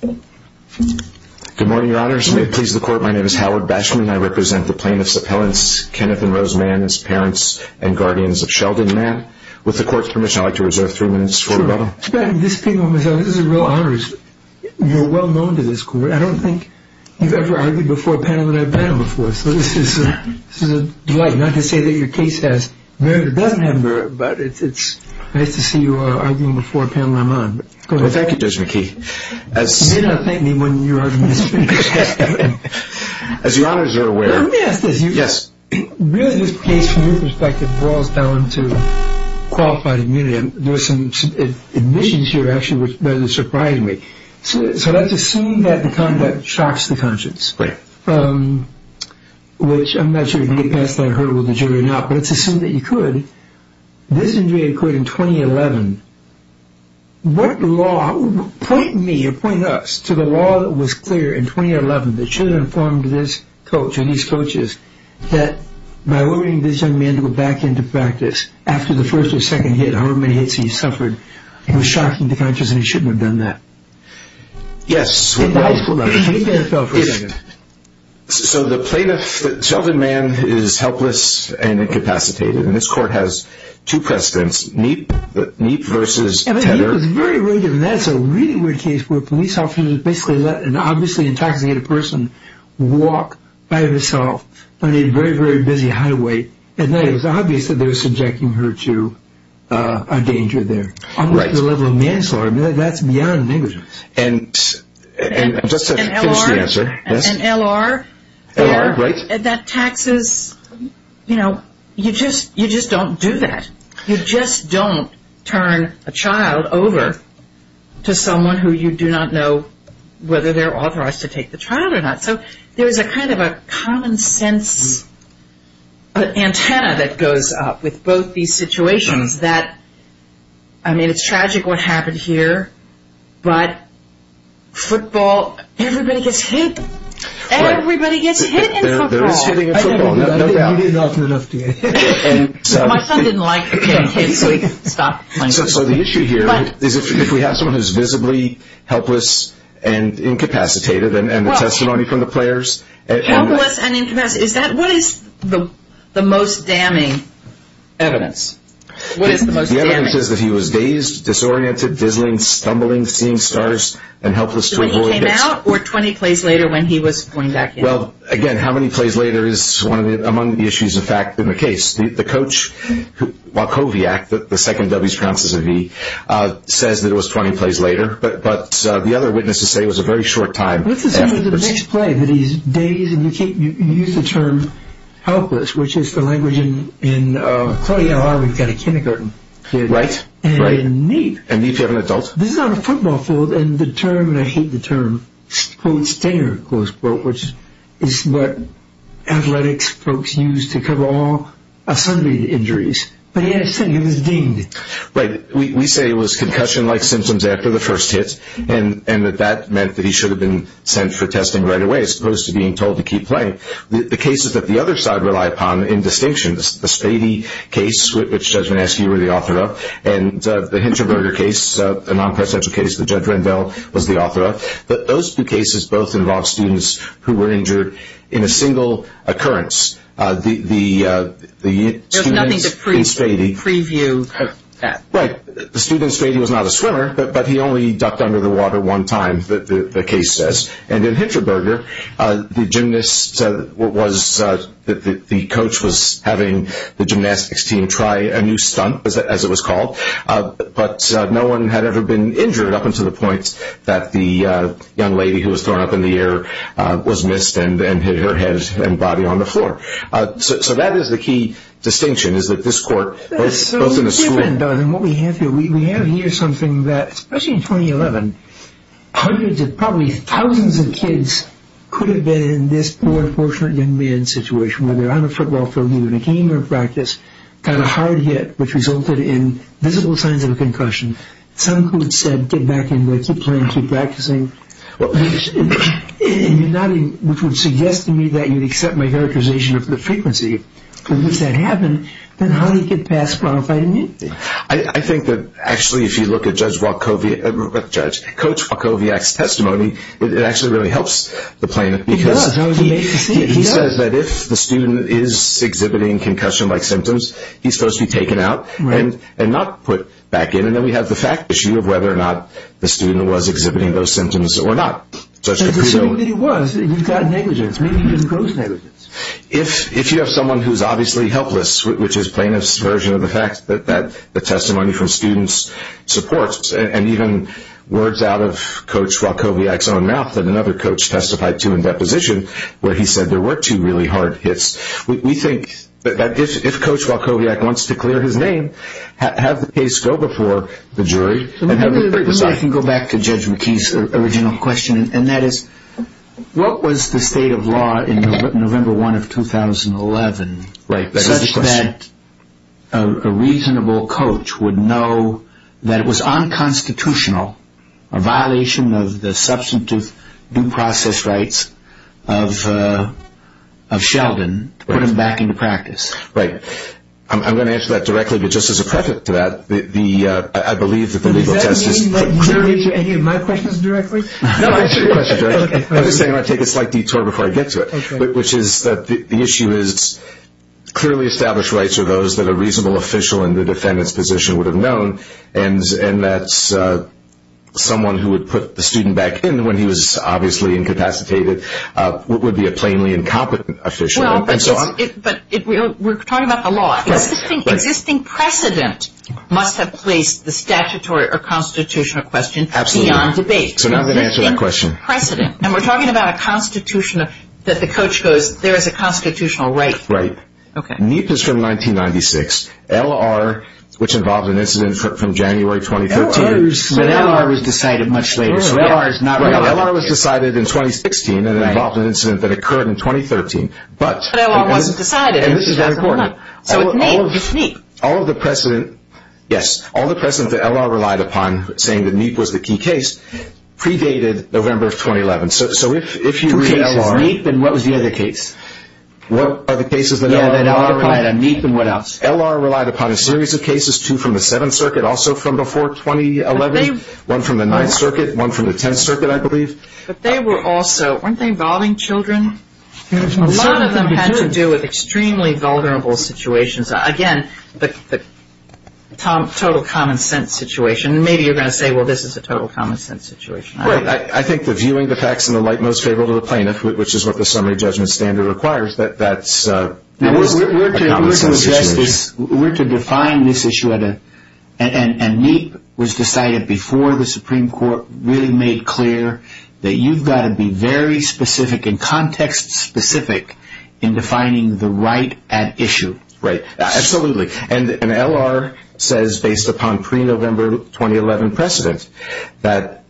Good morning, Your Honors. May it please the Court, my name is Howard Bashman and I represent the plaintiffs' appellants, Kenneth and Rose Mann, as parents and guardians of Sheldon Mann. With the Court's permission, I'd like to reserve three minutes for rebuttal. Sure. It's a real honor. You're well known to this Court. I don't think you've ever argued before a panel that I've paneled before, so this is a delight. Not to say that your case has merit or doesn't have merit, but it's nice to see you arguing before a panel I'm on. Go ahead. Thank you, Judge McKee. You may not thank me when your argument is finished. As Your Honors are aware... Let me ask this. Yes. Really, this case, from your perspective, boils down to qualified immunity, and there were some admissions here that actually surprised me. So let's assume that the conduct shocks the conscience. Right. Which, I'm not sure if you get past that hurdle with the jury or not, but let's assume that this injury occurred in 2011. What law, point me or point us to the law that was clear in 2011 that should have informed this coach and these coaches that by allowing this young man to go back into practice after the first or second hit, however many hits he suffered, it was shocking to conscience and he shouldn't have done that. Yes. Can you back up for a second? So the plaintiff, the young man, is helpless and incapacitated, and this court has two precedents, Neep versus Tedder. He was very rude, and that's a really weird case where police officers basically let an obviously intoxicated person walk by himself on a very, very busy highway, and it was obvious that they were subjecting her to a danger there. Right. On the level of manslaughter, that's beyond negligence. And just to finish the answer. And L.R. L.R., right. That taxes, you know, you just don't do that. You just don't turn a child over to someone who you do not know whether they're authorized to take the child or not. So there's a kind of a common sense antenna that goes up with both these situations that, I mean, it's tragic what happened here, but football, everybody gets hit. Everybody gets hit in football. There is hitting in football, no doubt. My son didn't like kids, so he stopped playing football. So the issue here is if we have someone who's visibly helpless and incapacitated, and the testimony from the players. Helpless and incapacitated. What is the most damning evidence? What is the most damning? The evidence is that he was dazed, disoriented, dizzling, stumbling, seeing stars, and helpless to avoid. So when he came out or 20 plays later when he was going back in? Well, again, how many plays later is one of the issues, in fact, in the case. The coach, Wachowiak, the second W's pronounces a V, says that it was 20 plays later. But the other witnesses say it was a very short time. Let's assume it was the next play, that he's dazed, and you use the term helpless, which is the language in Coney Island, we've got a kindergarten. Right, right. And in Mead. And Mead, if you have an adult. This is on a football field, and the term, and I hate the term, quote, stinger, close quote, which is what athletics folks use to cover all assembly injuries. But he had a stinger, he was dinged. Right. We say it was concussion-like symptoms after the first hit, and that that meant that he should have been sent for testing right away as opposed to being told to keep playing. The cases that the other side rely upon in distinction, the Spady case, which Judge Manesky was the author of, and the Hinchinberger case, a non-presidential case that Judge Rendell was the author of, those two cases both involved students who were injured in a single occurrence. There's nothing to preview that. Right. The students say he was not a swimmer, but he only ducked under the water one time, the case says. And in Hinchinberger, the coach was having the gymnastics team try a new stunt, as it was called, but no one had ever been injured up until the point that the young lady who was thrown up in the air was missed and hit her head and body on the floor. So that is the key distinction is that this court, both in the school. And what we have here, we have here something that, especially in 2011, probably thousands of kids could have been in this poor, unfortunate young man's situation, whether on a football field, either in a game or a practice, got a hard hit which resulted in visible signs of a concussion. Some who had said, get back in there, keep playing, keep practicing, which would suggest to me that you would accept my characterization of the frequency. And if that happened, then how do you get past qualified immunity? I think that actually if you look at Judge Wachowiak's testimony, it actually really helps the plaintiff. It does. He says that if the student is exhibiting concussion-like symptoms, he's supposed to be taken out and not put back in. And then we have the fact issue of whether or not the student was exhibiting those symptoms or not. But presumably he was. You've got negligence. Maybe even gross negligence. If you have someone who's obviously helpless, which is plaintiff's version of the fact that the testimony from students supports, and even words out of Coach Wachowiak's own mouth that another coach testified to in deposition, where he said there were two really hard hits, we think that if Coach Wachowiak wants to clear his name, have the case go before the jury. Maybe I can go back to Judge McKee's original question, and that is, what was the state of law in November 1 of 2011, such that a reasonable coach would know that it was unconstitutional, a violation of the substantive due process rights of Sheldon, to put him back into practice? Right. I'm going to answer that directly, but just as a preface to that, I believe that the legal test is clear. Does that mean that you're going to answer any of my questions directly? I'm just saying I want to take a slight detour before I get to it, which is that the issue is clearly established rights are those that a reasonable official in the defendant's position would have known, and that someone who would put the student back in when he was obviously incapacitated would be a plainly incompetent official. We're talking about the law. Existing precedent must have placed the statutory or constitutional question beyond debate. So now I'm going to answer that question. Precedent. And we're talking about a constitutional, that the coach goes, there is a constitutional right. Right. Okay. NEAP is from 1996. LR, which involved an incident from January 2013. But LR was decided much later, so LR is not related. LR was decided in 2016, and it involved an incident that occurred in 2013. But LR wasn't decided. And this is very important. So it's NEAP. It's NEAP. Yes. All the precedents that LR relied upon, saying that NEAP was the key case, predated November of 2011. So if you read LR. Two cases, NEAP and what was the other case? What are the cases that LR relied on? Yeah, that LR relied on, NEAP and what else? LR relied upon a series of cases, two from the Seventh Circuit, also from before 2011, one from the Ninth Circuit, one from the Tenth Circuit, I believe. But they were also, weren't they involving children? A lot of them had to do with extremely vulnerable situations. Again, the total common sense situation. Maybe you're going to say, well, this is a total common sense situation. Right. I think the viewing the facts in the light most favorable to the plaintiff, which is what the summary judgment standard requires, that that's a common sense situation. We're to define this issue at a, and NEAP was decided before the Supreme Court, really made clear that you've got to be very specific and context-specific in defining the right at issue. Right. Absolutely. And LR says, based upon pre-November 2011 precedent, that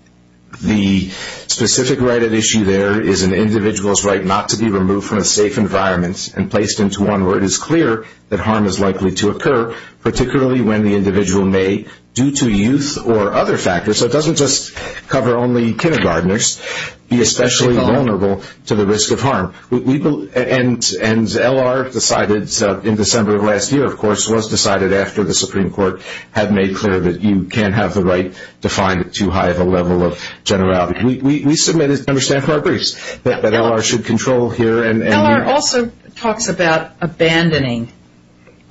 the specific right at issue there is an individual's right not to be removed from a safe environment and placed into one where it is clear that harm is likely to occur, particularly when the individual may, due to youth or other factors, so it doesn't just cover only kindergartners, be especially vulnerable to the risk of harm. And LR decided in December of last year, of course, was decided after the Supreme Court had made clear that you can't have the right to find it too high of a level of generality. We submitted to Member Stanford briefs that LR should control here. LR also talks about abandoning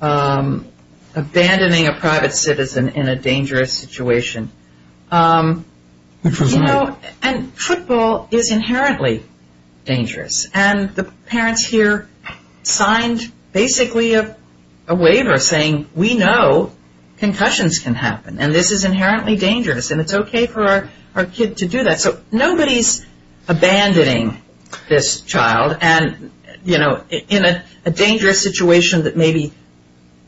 a private citizen in a dangerous situation. Which was me. You know, and football is inherently dangerous, and the parents here signed basically a waiver saying, we know concussions can happen, and this is inherently dangerous, and it's okay for our kid to do that. So nobody's abandoning this child, and, you know, in a dangerous situation that maybe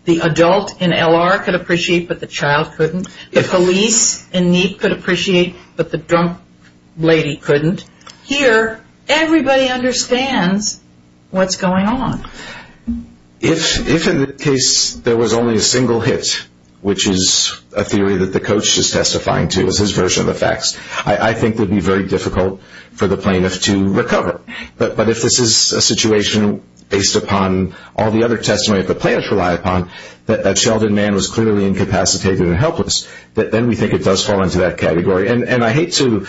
the adult in LR could appreciate but the child couldn't, the police in NEEP could appreciate but the drunk lady couldn't, here everybody understands what's going on. If in the case there was only a single hit, which is a theory that the coach is testifying to as his version of the facts, I think it would be very difficult for the plaintiff to recover. But if this is a situation based upon all the other testimony that the plaintiffs rely upon, that Sheldon Mann was clearly incapacitated and helpless, then we think it does fall into that category. And I hate to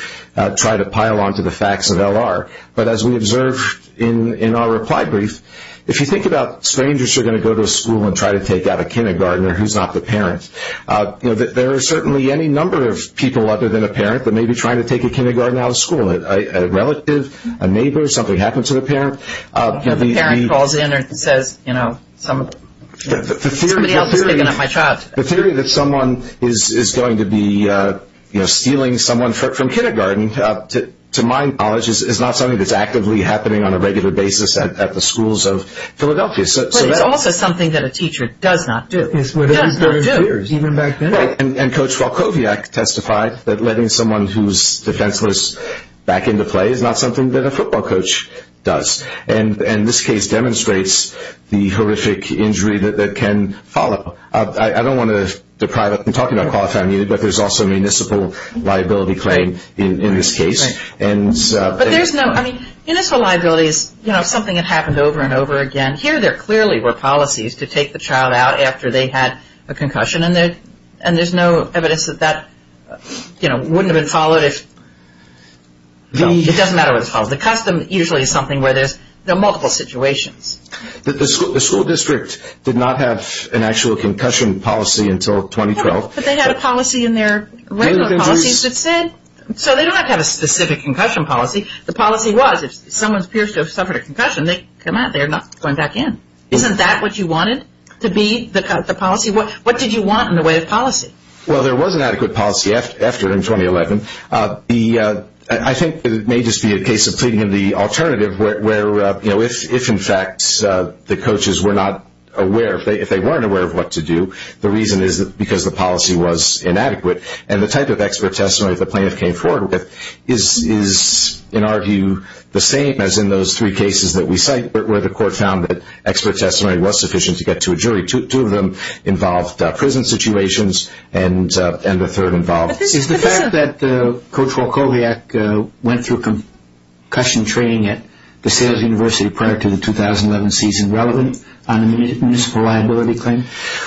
try to pile on to the facts of LR, but as we observed in our reply brief, if you think about strangers who are going to go to a school and try to take out a kindergartner who's not the parent, there are certainly any number of people other than a parent that may be trying to take a kindergartner out of school, a relative, a neighbor, something happened to the parent. The parent calls in and says, you know, somebody else is taking out my child. The theory that someone is going to be stealing someone from kindergarten to my college is not something that's actively happening on a regular basis at the schools of Philadelphia. But it's also something that a teacher does not do. It's what they've been doing for years, even back then. And Coach Volkoviak testified that letting someone who's defenseless back into play is not something that a football coach does. And this case demonstrates the horrific injury that can follow. I don't want to deprive us from talking about qualified immunity, but there's also a municipal liability claim in this case. But there's no, I mean, municipal liability is, you know, something that happened over and over again. Here there clearly were policies to take the child out after they had a concussion, and there's no evidence that that, you know, wouldn't have been followed. It doesn't matter what it's called. The custom usually is something where there's multiple situations. The school district did not have an actual concussion policy until 2012. But they had a policy in their regular policies that said, so they don't have a specific concussion policy. The policy was if someone appears to have suffered a concussion, they're not going back in. Isn't that what you wanted to be the policy? What did you want in the way of policy? Well, there was an adequate policy after in 2011. I think it may just be a case of pleading in the alternative where, you know, if in fact the coaches were not aware, if they weren't aware of what to do, the reason is because the policy was inadequate. And the type of expert testimony the plaintiff came forward with is, in our view, the same as in those three cases that we cite where the court found that expert testimony was sufficient to get to a jury. Two of them involved prison situations, and the third involved. Is the fact that Coach Wachowiak went through concussion training at DeSales University prior to the 2011 season relevant on a municipal liability claim?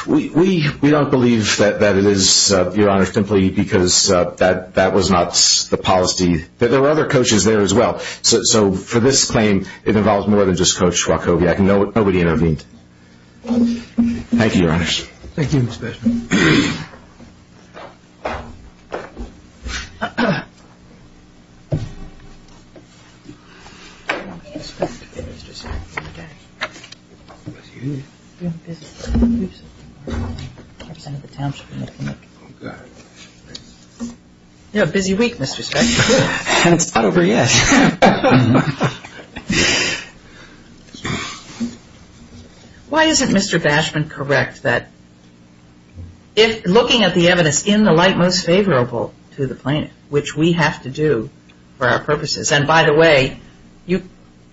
We don't believe that it is, Your Honor, simply because that was not the policy. There were other coaches there as well. So for this claim, it involves more than just Coach Wachowiak. Nobody intervened. Thank you, Your Honors. Thank you, Mr. Spence. You have a busy week, Mr. Spence. And it's not over yet. Why isn't Mr. Bashman correct that looking at the evidence in the light most favorable to the plaintiff, which we have to do for our purposes, and by the way, you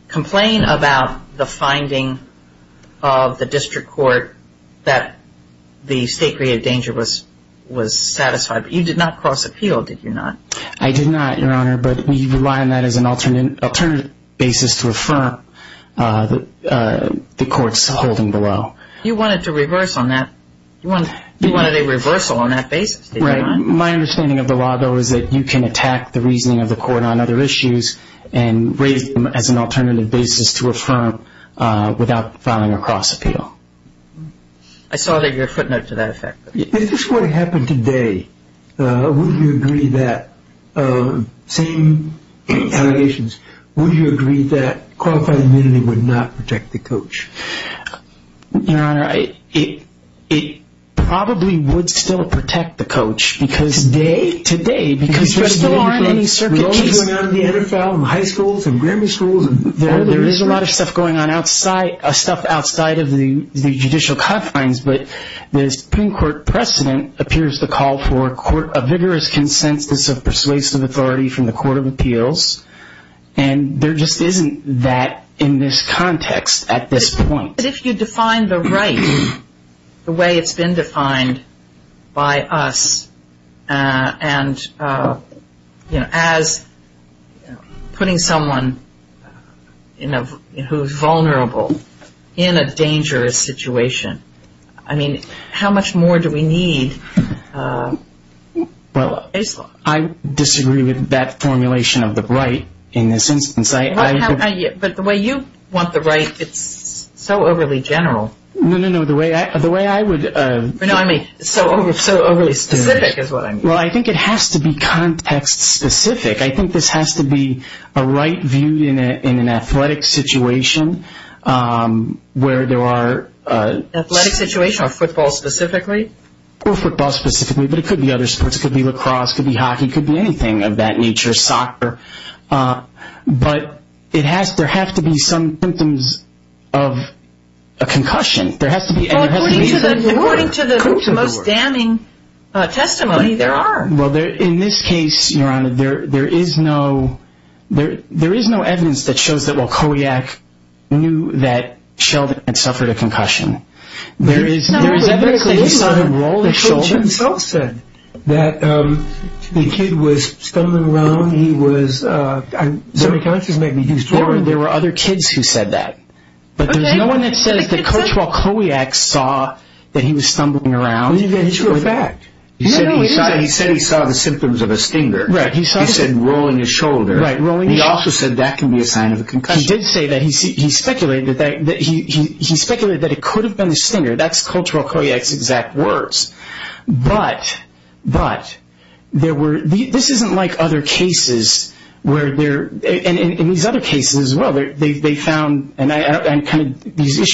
complain about the finding of the district court that the state created danger was satisfied, but you did not cross appeal, did you not? I did not, Your Honor, but we rely on that as an alternative basis to affirm the court's holding below. You wanted to reverse on that. You wanted a reversal on that basis, did you not? Right. My understanding of the law, though, is that you can attack the reasoning of the court on other issues and raise them as an alternative basis to affirm without filing a cross appeal. I saw that you had a footnote to that effect. If this were to happen today, would you agree that, same allegations, would you agree that qualified immunity would not protect the coach? Your Honor, it probably would still protect the coach. Today? Today. Because there still aren't any circuit cases. With all that's going on in the NFL and high schools and Grammy schools. There is a lot of stuff going on outside, stuff outside of the judicial confines, but the Supreme Court precedent appears to call for a vigorous consensus of persuasive authority from the Court of Appeals, and there just isn't that in this context at this point. But if you define the right the way it's been defined by us, and as putting someone who's vulnerable in a dangerous situation, I mean, how much more do we need? Well, I disagree with that formulation of the right in this instance. But the way you want the right, it's so overly general. No, no, no. No, I mean, so overly specific is what I mean. Well, I think it has to be context specific. I think this has to be a right viewed in an athletic situation where there are... Athletic situation or football specifically? Or football specifically, but it could be other sports. It could be lacrosse, it could be hockey, it could be anything of that nature, soccer. But there have to be some symptoms of a concussion. Well, according to the most damning testimony, there are. Well, in this case, Your Honor, there is no evidence that shows that, well, Kojak knew that Sheldon had suffered a concussion. There is evidence that he saw him roll his shoulders. The coach himself said that the kid was stumbling around, he was semi-conscious maybe. There were other kids who said that. But there's no one that says that Coach Walkowiak saw that he was stumbling around. It's your fact. He said he saw the symptoms of a stinger. He said rolling his shoulder. He also said that can be a sign of a concussion. He did say that. He speculated that it could have been a stinger. That's Coach Walkowiak's exact words. But this isn't like other cases where there... These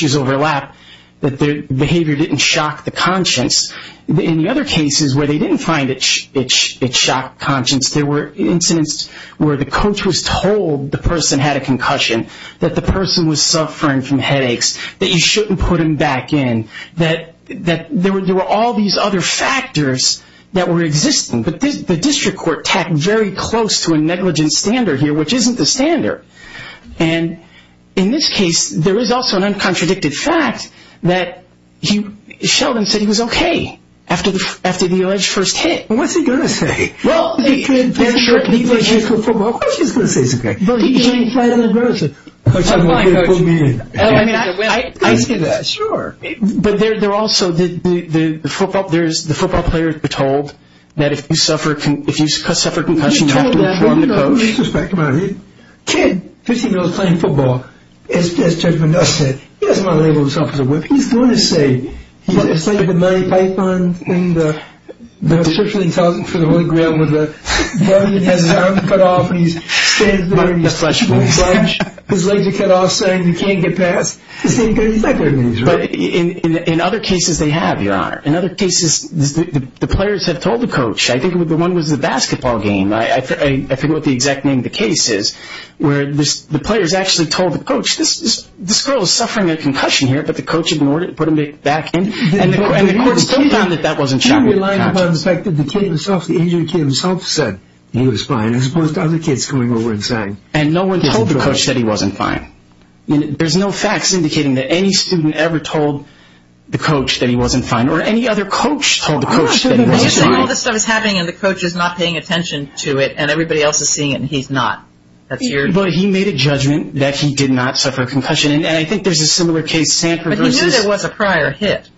issues overlap that the behavior didn't shock the conscience. In the other cases where they didn't find it shocked conscience, there were incidents where the coach was told the person had a concussion, that the person was suffering from headaches, that you shouldn't put him back in, that there were all these other factors that were existing. But the district court tacked very close to a negligent standard here, which isn't the standard. And in this case, there is also an uncontradicted fact that Sheldon said he was okay after the alleged first hit. What's he going to say? Well, he's going to say he's okay. Coach Walkowiak put me in. I see that. Sure. But there's also the football players were told that if you suffer a concussion, you have to inform the coach. No disrespect, but a kid, 15 years old, playing football, as Judge Mendoza said, he doesn't want to label himself as a whip. He's going to say he's a slave of the money pipeline and the social intelligence for the Holy Grail, where the guardian has his arm cut off and he's standing there... Like the Fletch Boys. His legs are cut off saying he can't get past. He's not going to be in Israel. But in other cases they have, Your Honor. In other cases, the players have told the coach. I think the one was the basketball game. I forget what the exact name of the case is. Where the players actually told the coach, this girl is suffering a concussion here, but the coach ignored it and put him back in, and the court still found that that wasn't shocking. He relied upon the fact that the agent himself said he was fine as opposed to other kids coming over and saying... And no one told the coach that he wasn't fine. There's no facts indicating that any student ever told the coach that he wasn't fine or any other coach told the coach that he wasn't fine. All this stuff is happening and the coach is not paying attention to it and everybody else is seeing it and he's not. But he made a judgment that he did not suffer a concussion, and I think there's a similar case. But he knew there was a prior hit.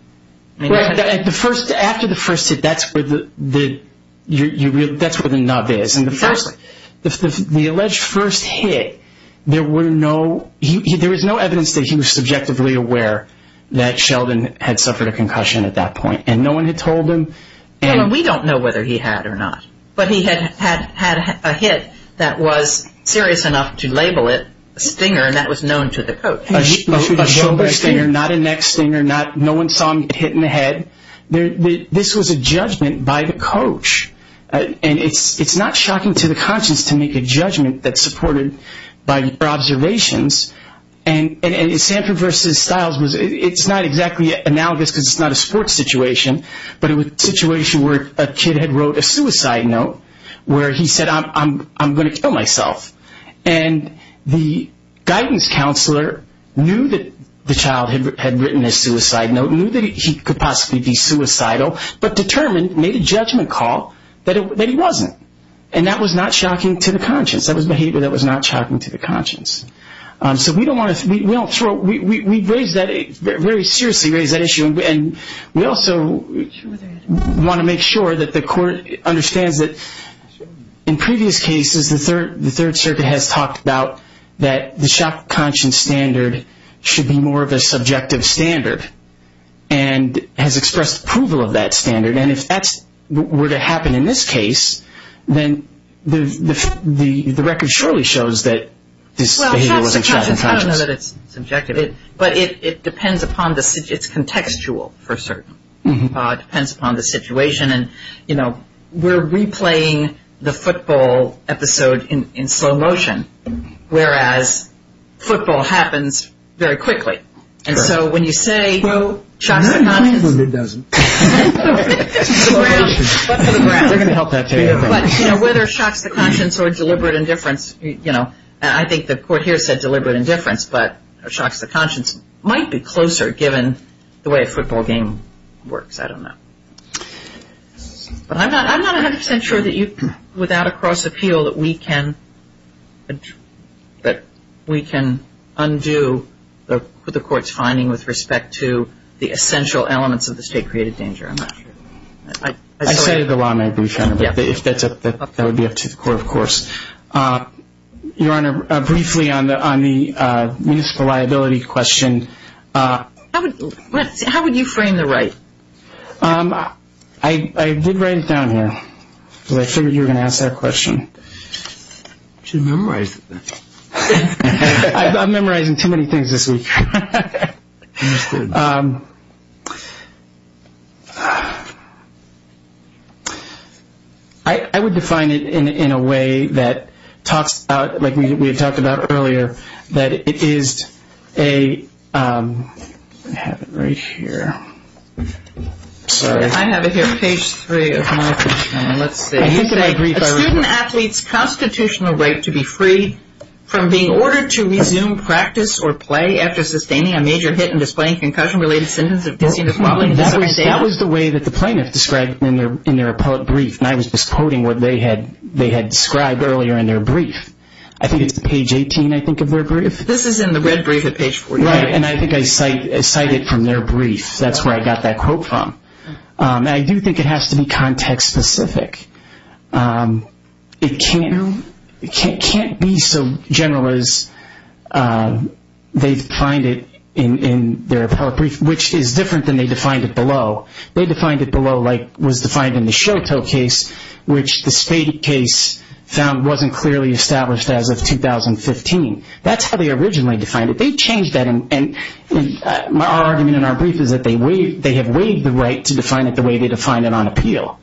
After the first hit, that's where the nub is. The alleged first hit, there was no evidence that he was subjectively aware that Sheldon had suffered a concussion at that point, and no one had told him... We don't know whether he had or not. But he had had a hit that was serious enough to label it a stinger and that was known to the coach. A shoulder stinger, not a neck stinger, no one saw him get hit in the head. This was a judgment by the coach, and it's not shocking to the conscience to make a judgment that's supported by observations. And Sanford v. Stiles, it's not exactly analogous because it's not a sports situation, but it was a situation where a kid had wrote a suicide note where he said, I'm going to kill myself. And the guidance counselor knew that the child had written a suicide note, knew that he could possibly be suicidal, but determined, made a judgment call, that he wasn't. And that was not shocking to the conscience. That was behavior that was not shocking to the conscience. So we don't want to throw... we raised that very seriously, raised that issue. And we also want to make sure that the court understands that in previous cases, the Third Circuit has talked about that the shock of conscience standard should be more of a subjective standard and has expressed approval of that standard. And if that were to happen in this case, then the record surely shows that this behavior wasn't shocking to the conscience. I don't know that it's subjective, but it depends upon the... it's contextual for certain. It depends upon the situation. And, you know, we're replaying the football episode in slow motion, whereas football happens very quickly. And so when you say shock to the conscience... No, no, no, no, it doesn't. It's the ground... but for the ground. We're going to help that too. But, you know, whether it shocks the conscience or deliberate indifference, you know, and I think the court here said deliberate indifference, but shocks the conscience might be closer given the way a football game works. I don't know. But I'm not 100% sure that you, without a cross appeal, that we can undo the court's finding with respect to the essential elements of the state-created danger. I'm not sure. I say it a lot in my brief. That would be up to the court, of course. Your Honor, briefly on the municipal liability question... How would you frame the right? I did write it down here because I figured you were going to ask that question. You should have memorized it then. I'm memorizing too many things this week. Understood. I would define it in a way that talks about, like we had talked about earlier, that it is a... I have it right here. Sorry. I have it here, page three of my question. Let's see. A student athlete's constitutional right to be freed from being ordered to resume practice or play after sustaining a major hit and displaying a concussion-related sentence... That was the way that the plaintiff described it in their brief, and I was just quoting what they had described earlier in their brief. I think it's page 18, I think, of their brief. This is in the red brief at page 48. Right, and I think I cite it from their brief. That's where I got that quote from. I do think it has to be context-specific. It can't be so general as they find it in their appellate brief, which is different than they defined it below. They defined it below like was defined in the Shoto case, which the Spade case found wasn't clearly established as of 2015. That's how they originally defined it. They changed that. Our argument in our brief is that they have waived the right to define it the way they defined it on appeal,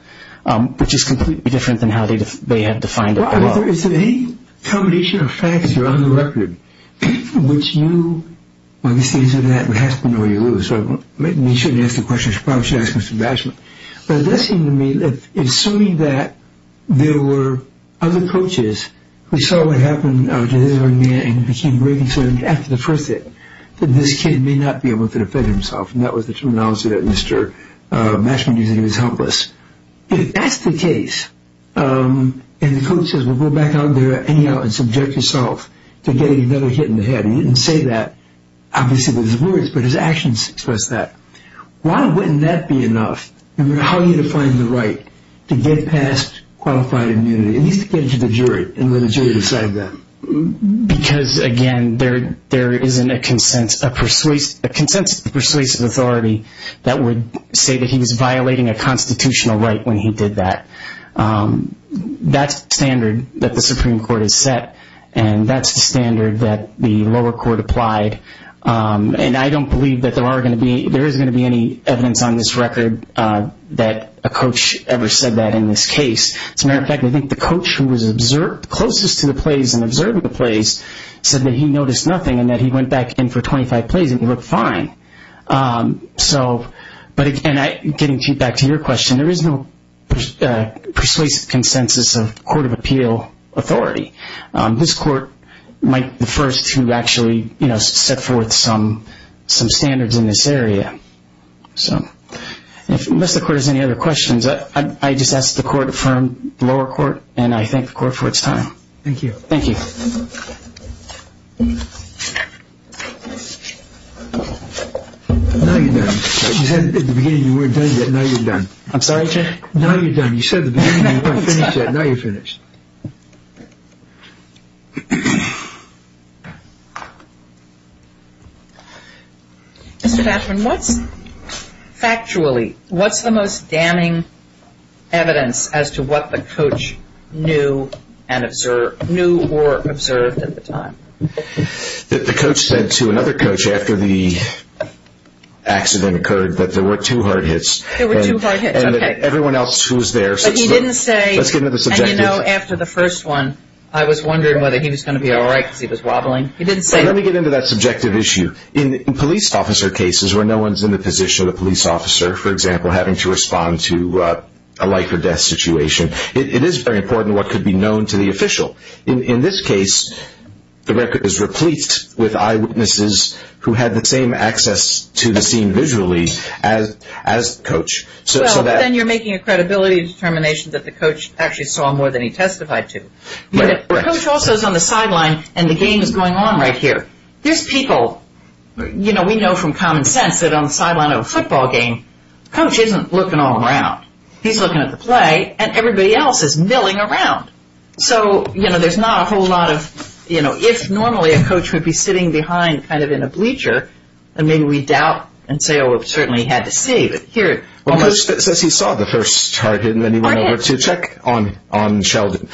which is completely different than how they had defined it below. Is there any combination of facts that are on the record, from which you, when you say something like that, it has to be where you live? You shouldn't ask the question. You should probably ask Mr. Basham. But it does seem to me that, assuming that there were other coaches who saw what happened to this young man and became very concerned after the first hit that this kid may not be able to defend himself, and that was the terminology that Mr. Basham used, that he was helpless. If that's the case, and the coach says, well, go back out there anyhow and subject yourself to getting another hit in the head. He didn't say that, obviously, with his words, but his actions express that. Why wouldn't that be enough, no matter how you define the right, to get past qualified immunity, at least to get it to the jury and let the jury decide that? Because, again, there isn't a consensus of persuasive authority that would say that he was violating a constitutional right when he did that. That's the standard that the Supreme Court has set, and that's the standard that the lower court applied. And I don't believe that there is going to be any evidence on this record that a coach ever said that in this case. As a matter of fact, I think the coach who was closest to the plays and observed the plays said that he noticed nothing and that he went back in for 25 plays and he looked fine. But, again, getting back to your question, there is no persuasive consensus of court of appeal authority. This court might be the first to actually set forth some standards in this area. So, unless the court has any other questions, I just ask the court to affirm the lower court, and I thank the court for its time. Thank you. Thank you. Now you're done. You said at the beginning you weren't done yet. I'm sorry, Judge? Now you're done. You said at the beginning you weren't finished yet. Now you're finished. Mr. Bachman, what's, factually, what's the most damning evidence as to what the coach knew and observed, knew or observed at the time? The coach said to another coach after the accident occurred that there were two hard hits. There were two hard hits, okay. Everyone else who was there. But he didn't say. Let's get into the subjective. And, you know, after the first one, I was wondering whether he was going to be all right because he was wobbling. He didn't say. Let me get into that subjective issue. In police officer cases where no one is in the position of the police officer, for example, having to respond to a life or death situation, it is very important what could be known to the official. In this case, the record is replete with eyewitnesses who had the same access to the scene visually as the coach. So then you're making a credibility determination that the coach actually saw more than he testified to. The coach also is on the sideline and the game is going on right here. There's people, you know, we know from common sense that on the sideline of a football game, the coach isn't looking all around. He's looking at the play and everybody else is milling around. So, you know, there's not a whole lot of, you know, if normally a coach would be sitting behind kind of in a bleacher, then maybe we doubt and say, oh, certainly he had to see. But here. Well, it says he saw the first target and then he went over to check on Sheldon.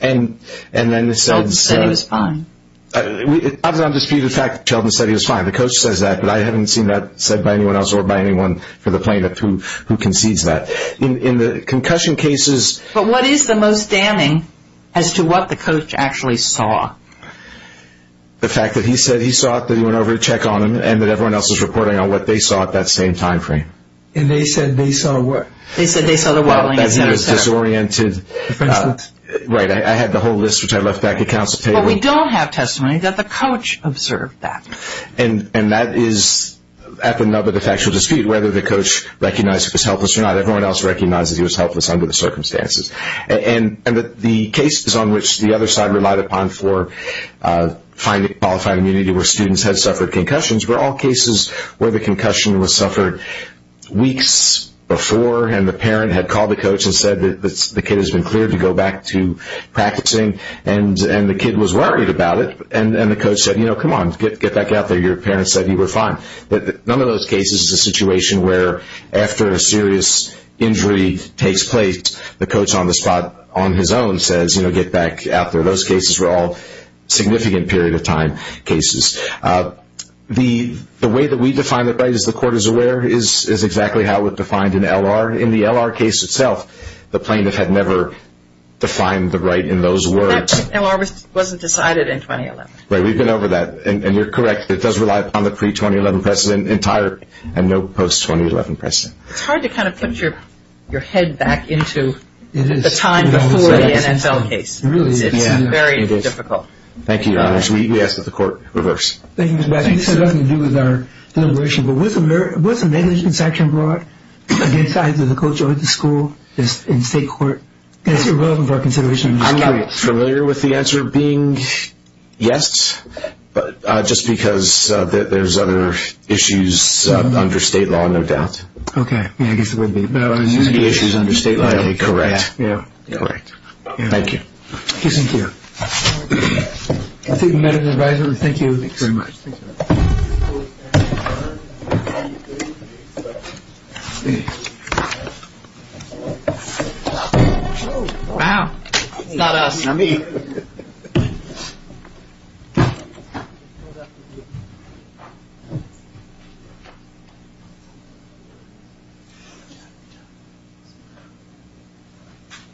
And then it says. Sheldon said he was fine. I was on dispute of the fact that Sheldon said he was fine. The coach says that, but I haven't seen that said by anyone else or by anyone for the plaintiff who concedes that. In the concussion cases. But what is the most damning as to what the coach actually saw? The fact that he said he saw that he went over to check on him and that everyone else is reporting on what they saw at that same time frame. And they said they saw what? They said they saw the wobbling. That he was disoriented. Right. I had the whole list, which I left back at council table. But we don't have testimony that the coach observed that. And that is at the nub of the factual dispute, whether the coach recognized he was helpless or not. Everyone else recognizes he was helpless under the circumstances. And the cases on which the other side relied upon for finding qualified immunity where students had suffered concussions were all cases where the concussion was suffered weeks before. And the parent had called the coach and said that the kid has been cleared to go back to practicing. And the kid was worried about it. And the coach said, you know, come on, get back out there. Your parent said you were fine. None of those cases is a situation where after a serious injury takes place, the coach on the spot on his own says, you know, get back out there. Those cases were all significant period of time cases. The way that we define the right, as the court is aware, is exactly how it was defined in L.R. In the L.R. case itself, the plaintiff had never defined the right in those words. That L.R. wasn't decided in 2011. Right. We've been over that. And you're correct. It does rely upon the pre-2011 precedent entirely and no post-2011 precedent. It's hard to kind of put your head back into the time before the NFL case. It's very difficult. Thank you, Your Honors. We ask that the court reverse. Thank you, Mr. Baskin. This has nothing to do with our deliberation. But was the negligence action brought against either the coach or the school in state court? Is it relevant for our consideration? I'm not familiar with the answer being yes, but just because there's other issues under state law, no doubt. Okay. Yeah, I guess it would be. Any issues under state law? Correct. Yeah. Correct. Thank you. Thank you. I think we met at an advisory. Thank you. Thanks very much. Thank you. Wow. It's not us, not me.